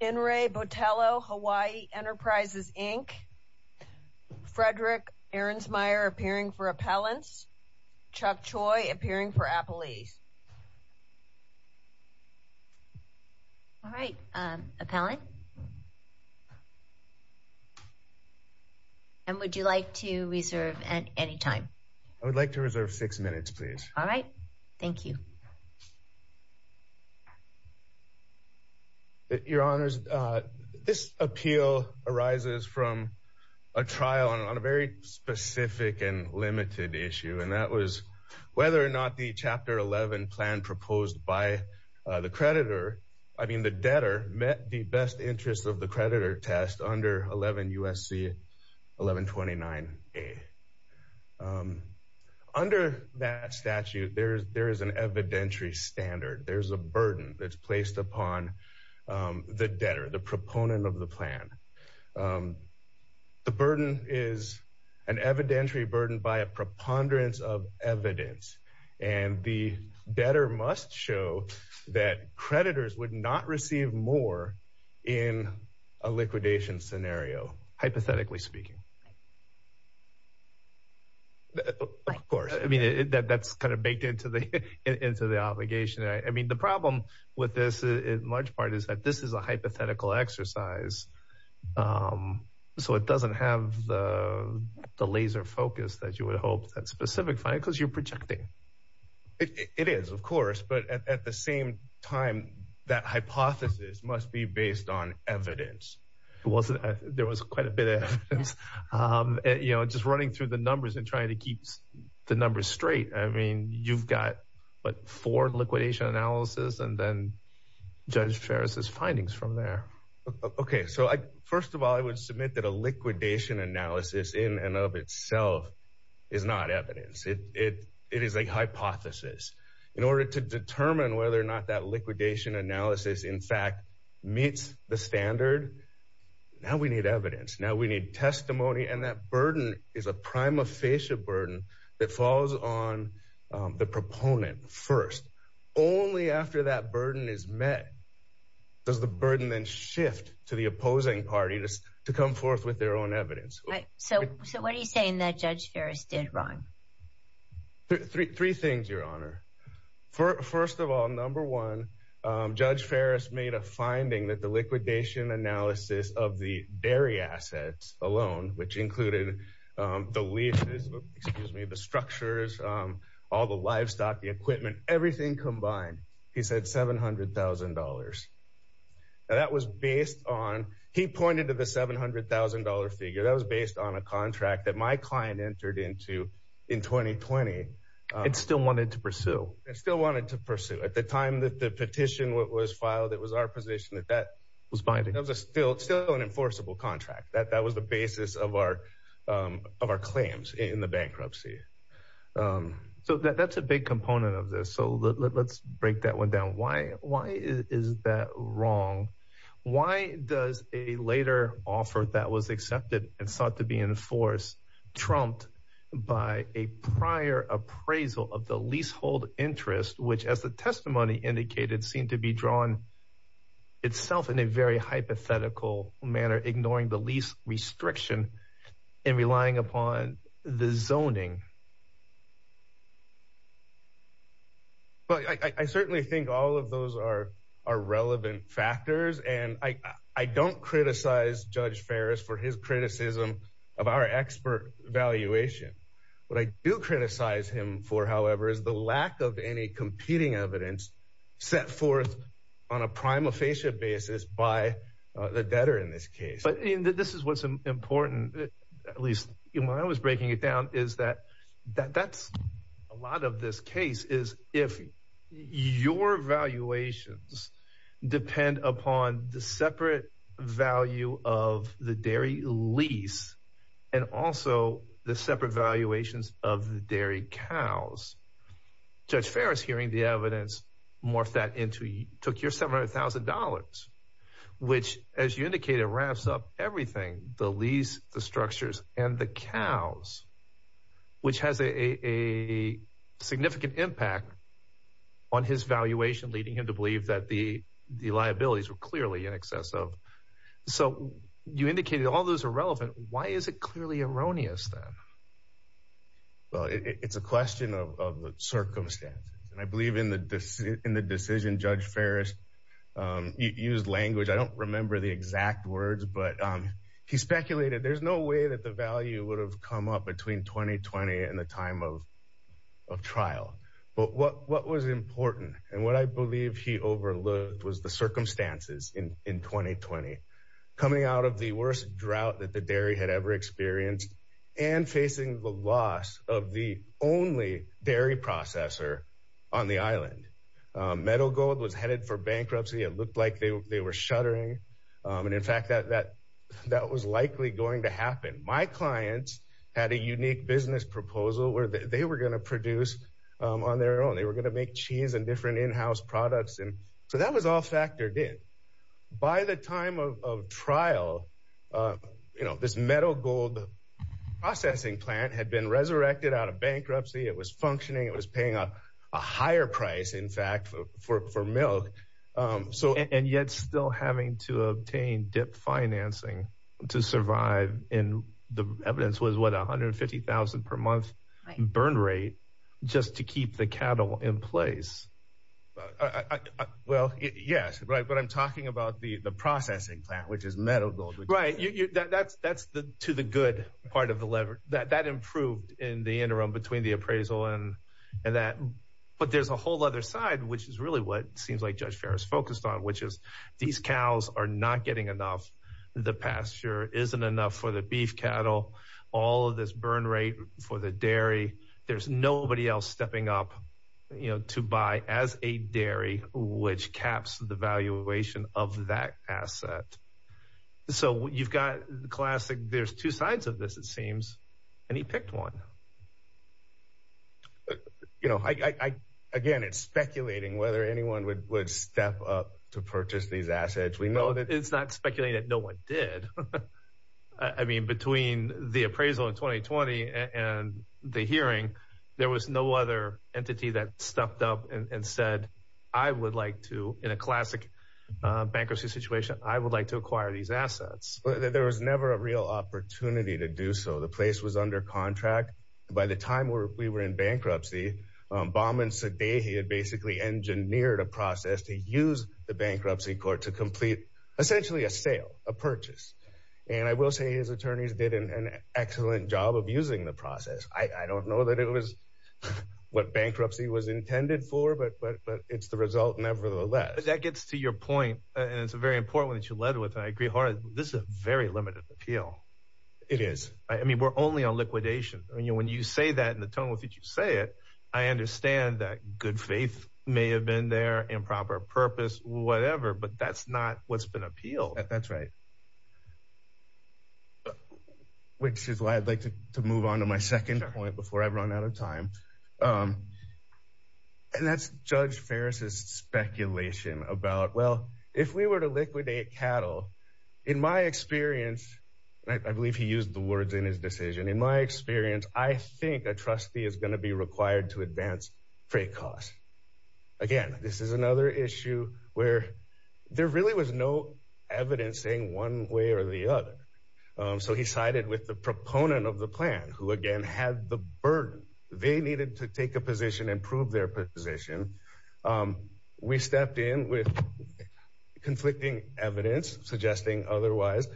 In re Boteilho Hawaii Enterprises, Inc. Frederick Ehrensmeyer appearing for appellants. Chuck Choi appearing for appellees. All right appellant and would you like to reserve at any time? I would like to reserve six minutes please. All your honors this appeal arises from a trial on a very specific and limited issue and that was whether or not the chapter 11 plan proposed by the creditor I mean the debtor met the best interest of the creditor test under 11 USC 1129 a under that statute there's there is an evidentiary standard there's a burden that's placed upon the debtor the proponent of the plan the burden is an evidentiary burden by a preponderance of evidence and the debtor must show that creditors would not receive more in a liquidation scenario hypothetically speaking of course I mean that that's kind of baked into the into the problem with this in large part is that this is a hypothetical exercise so it doesn't have the laser focus that you would hope that specific fine because you're projecting it is of course but at the same time that hypothesis must be based on evidence it wasn't there was quite a bit of you know just running through the numbers and trying to keep the numbers straight I mean you've got but for liquidation analysis and then judge Ferris's findings from there okay so I first of all I would submit that a liquidation analysis in and of itself is not evidence it it is a hypothesis in order to determine whether or not that liquidation analysis in fact meets the standard now we need evidence now we need testimony and that burden is a prima facie burden that falls on the proponent first only after that burden is met does the burden then shift to the opposing parties to come forth with their own evidence so so what are you saying that judge Ferris did wrong three things your honor for first of all number one judge Ferris made a finding that the liquidation analysis of the dairy assets alone which included the leases excuse me the structures all the livestock the equipment everything combined he said seven hundred thousand dollars that was based on he pointed to the seven hundred thousand dollar figure that was based on a contract that my client entered into in 2020 it still wanted to pursue it still wanted to pursue at the time that the petition what was filed it was our position that that was binding of the still still an enforceable contract that that was the basis of our of our claims in the big component of this so let's break that one down why why is that wrong why does a later offer that was accepted and sought to be in force trumped by a prior appraisal of the leasehold interest which as the testimony indicated seemed to be drawn itself in a very hypothetical manner ignoring the lease and relying upon the zoning but I certainly think all of those are relevant factors and I I don't criticize judge Ferris for his criticism of our expert evaluation what I do criticize him for however is the lack of any competing evidence set forth on a prima facie basis by the debtor in this case but this is what's important at least you know I was breaking it down is that that that's a lot of this case is if your valuations depend upon the separate value of the dairy lease and also the separate valuations of the dairy cows judge Ferris hearing the evidence morphed that into you took your seven thousand dollars which as you indicated wraps up everything the lease the structures and the cows which has a significant impact on his valuation leading him to believe that the the liabilities were clearly in excess of so you indicated all those are relevant why is it clearly erroneous then well it's a question of the circumstances and I believe in the decision in the decision judge Ferris used language I don't remember the exact words but he speculated there's no way that the value would have come up between 2020 and the time of of trial but what what was important and what I believe he overlooked was the circumstances in in 2020 coming out of the worst drought that the dairy had ever experienced and facing the loss of the only dairy processor on the island metal gold was headed for bankruptcy it looked like they were shuttering and in fact that that that was likely going to happen my clients had a unique business proposal where they were gonna produce on their own they were gonna make cheese and different in-house products and so that was all factored in by the time of trial you know this metal gold processing plant had been resurrected out of bankruptcy it was functioning it was paying up a higher price in fact for milk so and yet still having to obtain dip financing to survive in the evidence was what a hundred fifty thousand per month burn rate just to keep the cattle in place well yes right but I'm talking about the the processing plant which is metal gold right you that's that's the to the good part of the lever that that improved in the interim between the appraisal and and that but there's a whole other side which is really what seems like judge Ferris focused on which is these cows are not getting enough the pasture isn't enough for the beef cattle all of this burn rate for the dairy there's nobody else stepping up you know to buy as a dairy which caps the valuation of that asset so you've got the classic there's two sides of this it seems and he picked one you know I again it's speculating whether anyone would would step up to purchase these assets we know that it's not speculating that no one did I mean between the appraisal in 2020 and the hearing there was no other entity that I would like to acquire these assets there was never a real opportunity to do so the place was under contract by the time we were in bankruptcy Bauman said a he had basically engineered a process to use the bankruptcy court to complete essentially a sale a purchase and I will say his attorneys did an excellent job of using the process I don't know that it was what bankruptcy was intended for but but but it's the result nevertheless that gets to your point and it's a very important that you led with I agree hard this is a very limited appeal it is I mean we're only on liquidation and you when you say that in the tone with it you say it I understand that good faith may have been there improper purpose whatever but that's not what's been appealed that's right which is why I'd like to move on to my second point before I run out of time and that's Judge Ferris's speculation about well if we were to liquidate cattle in my experience I believe he used the words in his decision in my experience I think a trustee is going to be required to advance freight costs again this is another issue where there really was no evidence saying one way or the other so he sided with the proponent of the plan who again had the burden they needed to take a position and prove their position we stepped in with conflicting evidence suggesting otherwise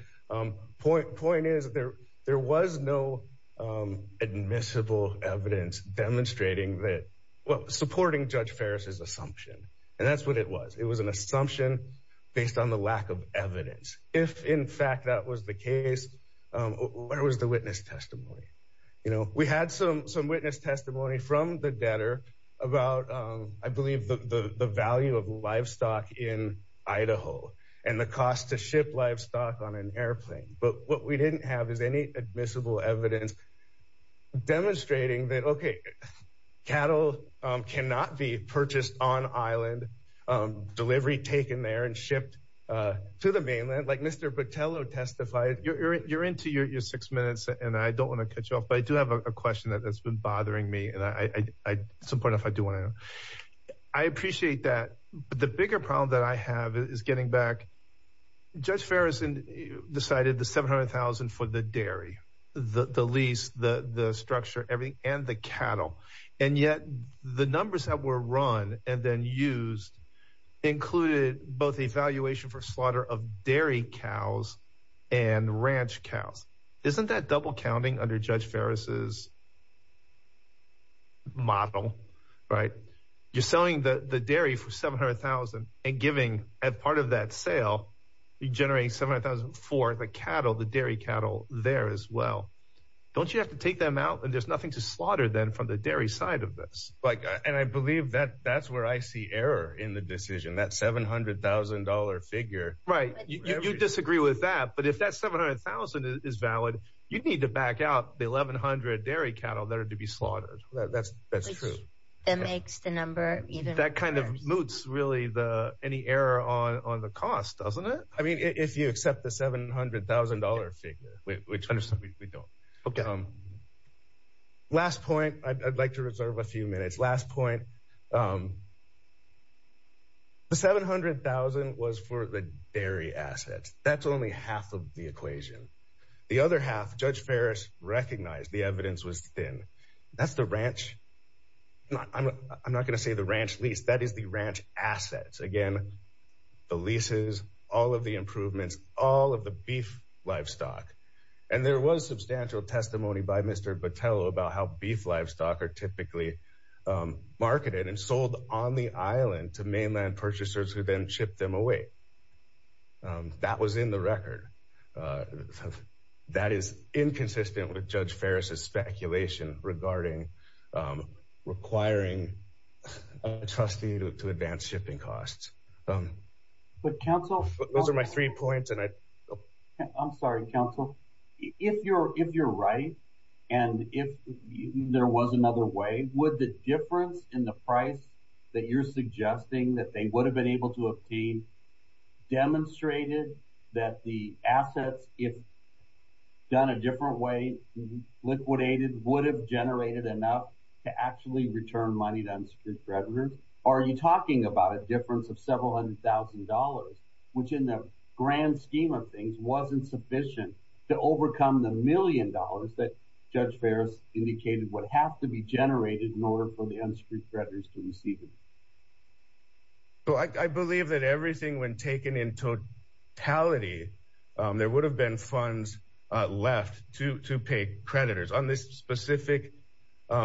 point point is there there was no admissible evidence demonstrating that well supporting Judge Ferris's assumption and that's what it was it was an assumption based on the lack of evidence if in fact that was the case where was the witness testimony you know we had some some witness testimony from the debtor about I believe the the value of livestock in Idaho and the cost to ship livestock on an airplane but what we didn't have is any admissible evidence demonstrating that okay cattle cannot be purchased on island delivery taken there and shipped to the mainland like mr. Portillo testified you're into your six minutes and I don't want to cut you off but I do have a question that that's been bothering me and I support if I do want to I appreciate that but the bigger problem that I have is getting back judge Ferris and decided the 700,000 for the dairy the the lease the the structure everything and the cattle and yet the numbers that were run and then used included both evaluation for dairy cows and ranch cows isn't that double counting under judge Ferris's model right you're selling the the dairy for 700,000 and giving at part of that sale you generate seven thousand for the cattle the dairy cattle there as well don't you have to take them out and there's nothing to slaughter then from the dairy side of this like and I believe that that's where I see error in the decision that $700,000 figure right you disagree with that but if that's 700,000 is valid you need to back out the 1,100 dairy cattle there to be slaughtered that's that's true that makes the number that kind of moots really the any error on on the cost doesn't it I mean if you accept the $700,000 figure which understand we don't okay um last point I'd like to the 700,000 was for the dairy assets that's only half of the equation the other half judge Ferris recognized the evidence was thin that's the ranch I'm not gonna say the ranch lease that is the ranch assets again the leases all of the improvements all of the beef livestock and there was substantial testimony by mr. Botelho about how beef livestock are typically marketed and land purchasers who then ship them away that was in the record that is inconsistent with judge Ferris's speculation regarding requiring trustee to advance shipping costs but counsel those are my three points and I I'm sorry counsel if you're if you're right and if there was another way would the difference in the price that you're suggesting that they would have been able to obtain demonstrated that the assets if done a different way liquidated would have generated enough to actually return money to unsecured residents are you talking about a difference of several hundred thousand dollars which in the grand scheme of things wasn't sufficient to overcome the to receive it so I believe that everything when taken in totality there would have been funds left to to pay creditors on this specific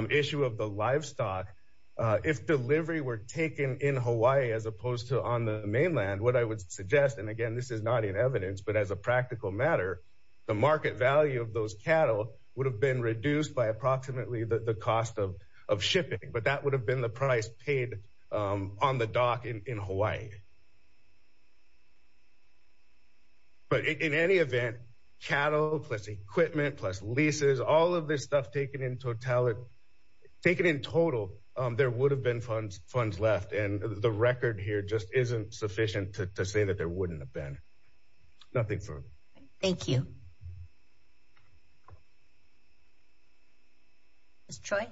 issue of the livestock if delivery were taken in Hawaii as opposed to on the mainland what I would suggest and again this is not in evidence but as a practical matter the market value of those cattle would have been reduced by approximately the cost of shipping but that would have been the price paid on the dock in Hawaii but in any event cattle plus equipment plus leases all of this stuff taken in totality taken in total there would have been funds funds left and the record here just isn't sufficient to say that there wouldn't have been nothing thank you destroy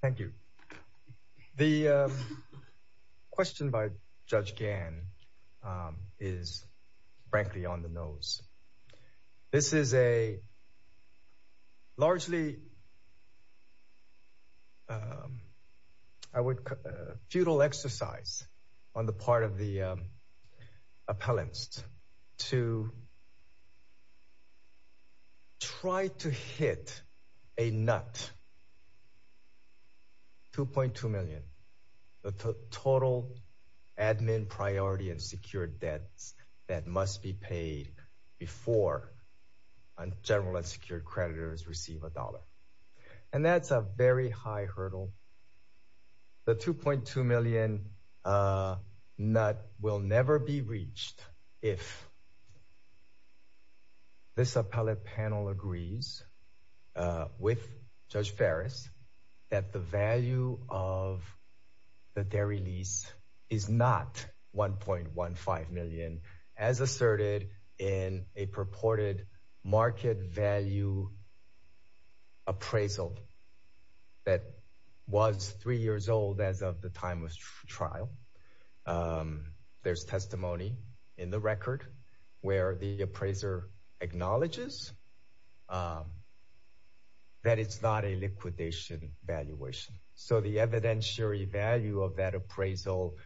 thank you the question by judge Gann is frankly on the nose this is a largely I futile exercise on the part of the appellants to try to hit a nut 2.2 million the total admin priority and secure debts that must be paid before on unsecured creditors receive a dollar and that's a very high hurdle the 2.2 million nut will never be reached if this appellate panel agrees with judge Ferris that the value of the dairy lease is not 1.15 million as asserted in a value appraisal that was three years old as of the time of trial there's testimony in the record where the appraiser acknowledges that it's not a liquidation valuation so the evidentiary value of that appraisal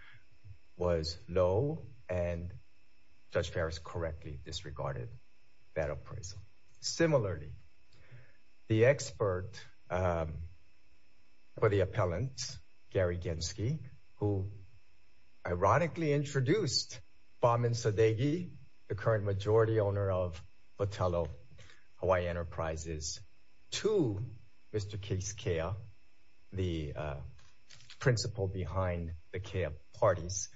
was low and judge Ferris correctly disregarded that appraisal similarly the expert for the appellant Gary Genski who ironically introduced bombin Sadeghi the current majority owner of Botello Hawaii Enterprises to mr. case care the principal behind the care parties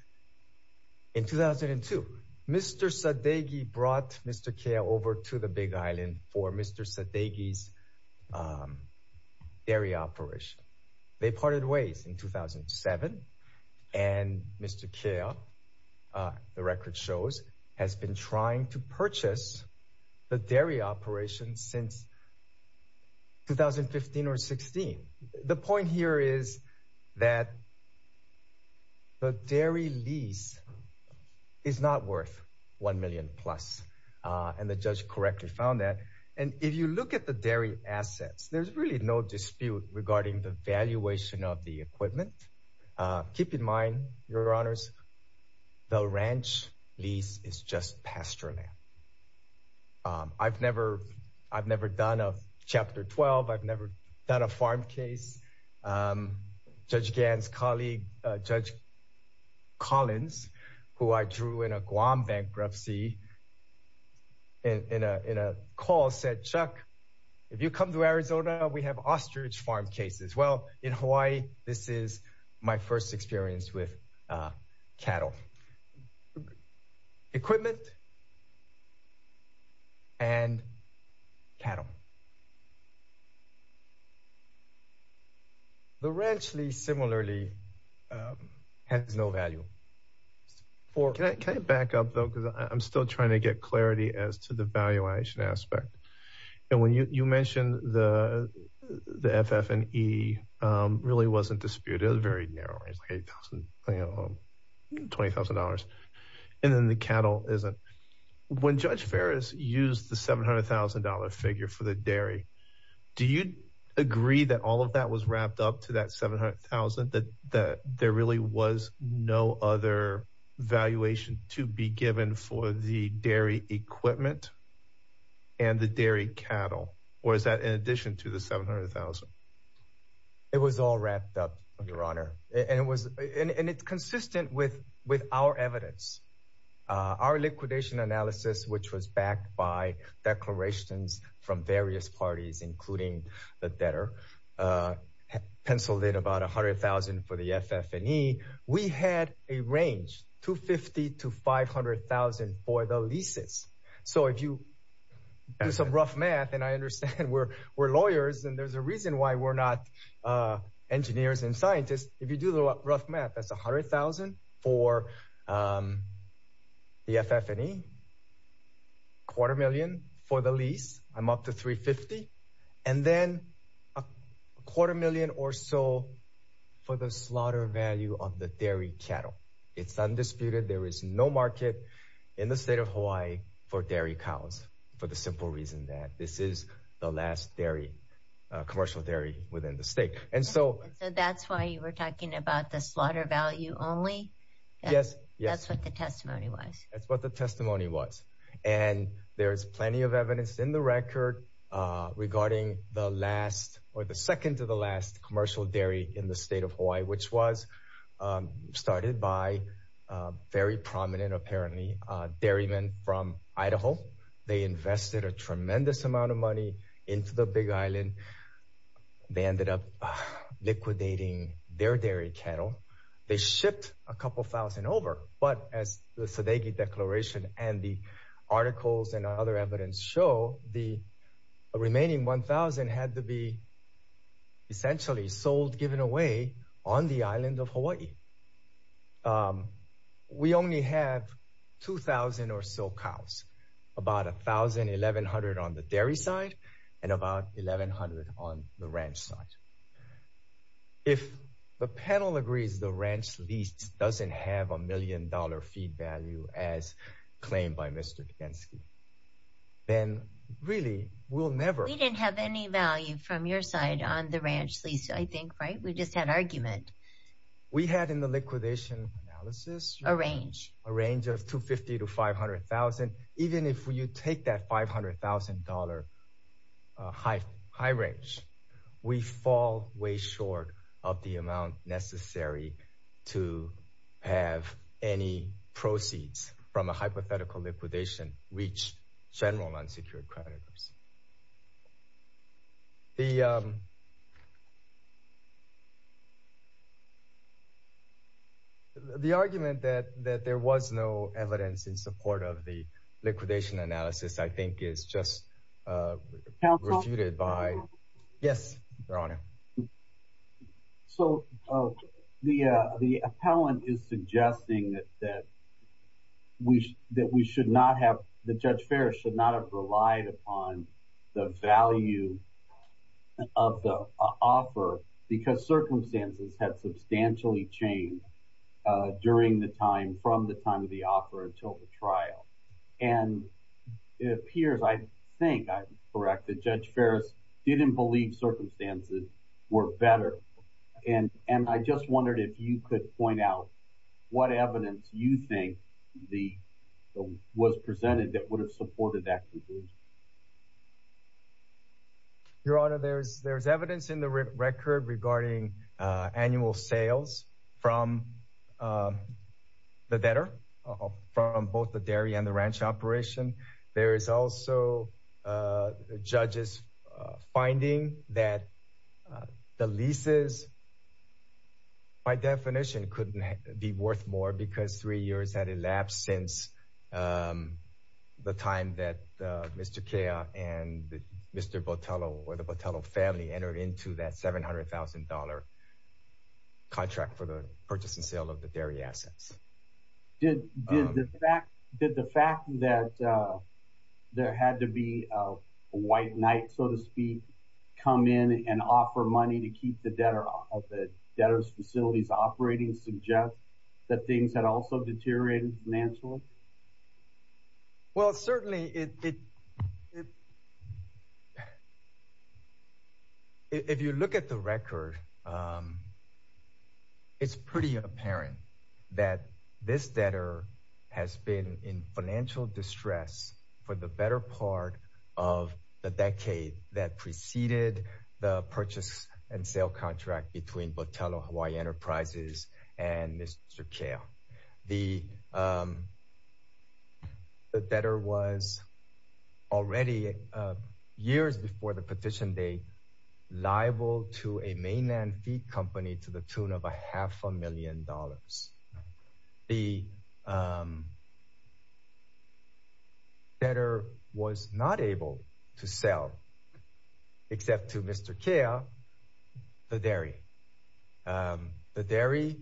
in 2002 mr. Sadeghi brought mr. care over to the Big Island for mr. Sadeghi's dairy operation they parted ways in 2007 and mr. care the record shows has been trying to purchase the dairy operation since 2015 or 16 the point here is that the dairy lease is not worth 1 million plus and the judge correctly found that and if you look at the dairy assets there's really no dispute regarding the valuation of the equipment keep in mind your honors the ranch lease is just pasture land I've never I've never done a chapter 12 I've never done a farm case judge Gann's colleague judge Collins who I drew in a Guam bankruptcy in a in a call said Chuck if you come to Arizona we have ostrich farm cases well in Hawaii this is my first experience with cattle equipment and cattle the ranch lease similarly has no value or can I back up though because I'm still trying to get clarity as to the valuation aspect and when you mentioned the the FF and E really wasn't disputed very narrow $20,000 and then the cattle isn't when judge Ferris used the $700,000 figure for the dairy do you agree that all of that was wrapped up to that 700,000 that there really was no other valuation to be given for the dairy equipment and the dairy cattle or is that in addition to the 700,000 it was all wrapped up of your honor and it was and it's consistent with with our evidence our liquidation analysis which was backed by declarations from various parties including the debtor pencil did about a hundred thousand for the FF and E we had a range 250 to 500,000 for the leases so if you do some rough math and I understand we're we're lawyers and there's a reason why we're not engineers and scientists if you do the rough math that's a hundred thousand for the FF and E quarter million for the lease I'm up to 350 and then a quarter million or so for the slaughter value of the dairy cattle it's undisputed there is no market in the state of Hawaii for dairy cows for the simple reason that this is the last dairy commercial dairy within the state and so that's why you were talking about the slaughter value only yes yes that's what the testimony was that's what the testimony was and there is plenty of evidence in the record regarding the last or the second to the last commercial dairy in the state of Hawaii which was started by very they invested a tremendous amount of money into the Big Island they ended up liquidating their dairy cattle they shipped a couple thousand over but as the Sodegi declaration and the articles and other evidence show the remaining 1,000 had to be essentially sold given away on the island of Hawaii we only have 2,000 or so cows about a thousand eleven hundred on the dairy side and about eleven hundred on the ranch side if the panel agrees the ranch lease doesn't have a million dollar feed value as claimed by mr. Kansky then really we'll never we didn't have any value from your side on the ranch lease I we just had argument we had in the liquidation a range a range of 250 to 500,000 even if you take that $500,000 high high range we fall way short of the amount necessary to have any proceeds from a hypothetical liquidation reach general unsecured creditors the the argument that that there was no evidence in support of the liquidation analysis I think is just counted by yes your honor so the the appellant is suggesting that that we that we should not have the judge Ferris should not have relied upon the value of the offer because circumstances had substantially changed during the time from the time of the offer until the trial and it appears I think I correct the judge Ferris didn't believe circumstances were better and and I just wondered if you could point what evidence you think the was presented that would have supported that conclusion your honor there's there's evidence in the record regarding annual sales from the better from both the dairy and the ranch operation there is also judges finding that the leases by definition couldn't be worth more because three years had elapsed since the time that mr. Kea and mr. Botello or the Botello family entered into that $700,000 contract for the purchase and there had to be a white knight so to speak come in and offer money to keep the debtor of the debtors facilities operating suggest that things had also deteriorated financially well certainly it if you look at the record it's pretty apparent that this debtor has been in financial distress for the better part of the decade that preceded the purchase and sale contract between Botello Hawaii Enterprises and mr. Chao the the debtor was already years before the petition liable to a mainland feed company to the tune of a half a million dollars the better was not able to sell except to mr. Kea the dairy the dairy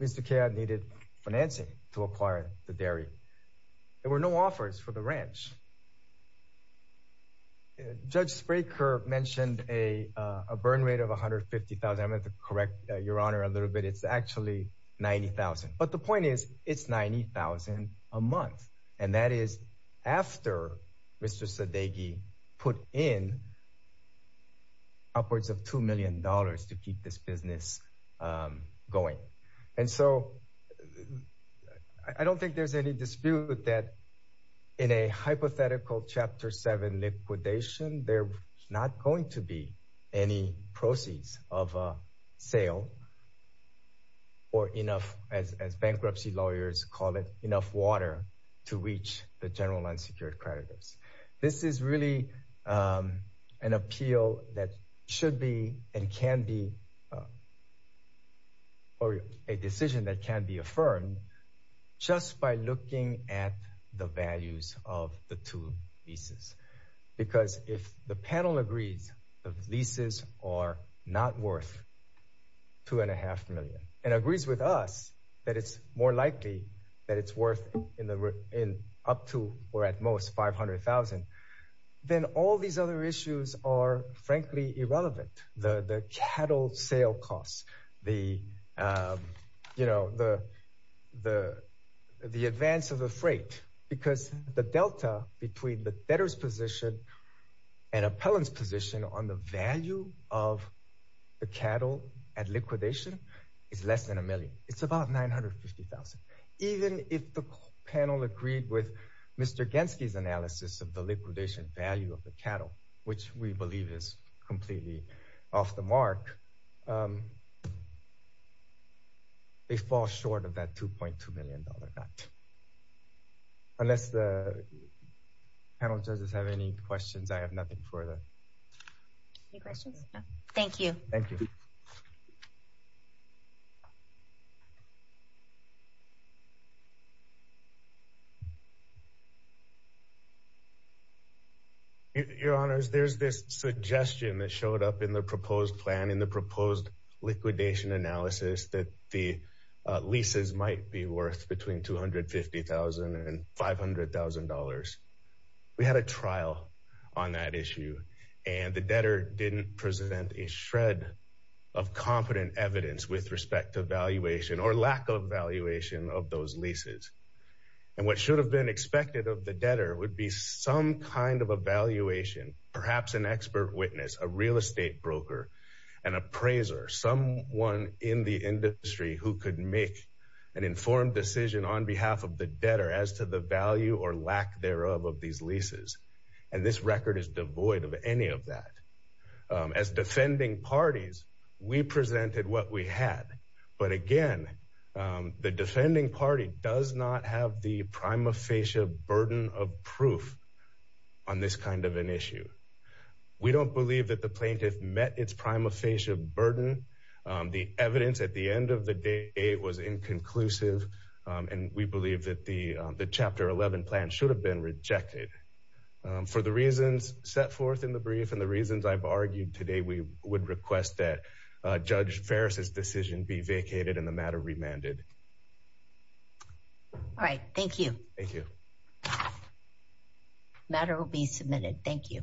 mr. Kea needed financing to acquire the dairy there were no offers for the ranch judge Spraker mentioned a burn rate of 150,000 to correct your honor a little bit it's actually 90,000 but the point is it's 90,000 a month and that is after mr. Sadegi put in upwards of two million dollars to keep this business going and I don't think there's any dispute that in a hypothetical chapter 7 liquidation they're not going to be any proceeds of a sale or enough as bankruptcy lawyers call it enough water to reach the general unsecured creditors this is really an appeal that should be and can be or a decision that can be affirmed just by looking at the values of the two pieces because if the panel agrees the leases are not worth two and a half million and agrees with us that it's more likely that it's worth in the room in up to or at most 500,000 then all these other issues are frankly irrelevant the cattle sale costs the you know the the the advance of the freight because the Delta between the debtors position and appellants position on the value of the cattle at liquidation is about 950,000 even if the panel agreed with mr. Genski's analysis of the liquidation value of the cattle which we believe is completely off the mark they fall short of that 2.2 million dollar dot unless the panel judges have any questions I have nothing for you thank you your honors there's this suggestion that showed up in the proposed plan in the proposed liquidation analysis that the leases might be worth between 250,000 and $500,000 we had a trial on that issue and the debtor didn't present a shred of competent evidence with respect to valuation or lack of valuation of those leases and what should have been expected of the debtor would be some kind of evaluation perhaps an expert witness a real estate broker an appraiser someone in the industry who could make an informed decision on the value or lack thereof of these leases and this record is devoid of any of that as defending parties we presented what we had but again the defending party does not have the prima facie burden of proof on this kind of an issue we don't believe that the plaintiff met its prima facie burden the evidence at the end of the day it was inconclusive and we believe that the the chapter 11 plan should have been rejected for the reasons set forth in the brief and the reasons I've argued today we would request that judge Ferris's decision be vacated in the matter remanded all right thank you thank you matter will be submitted thank you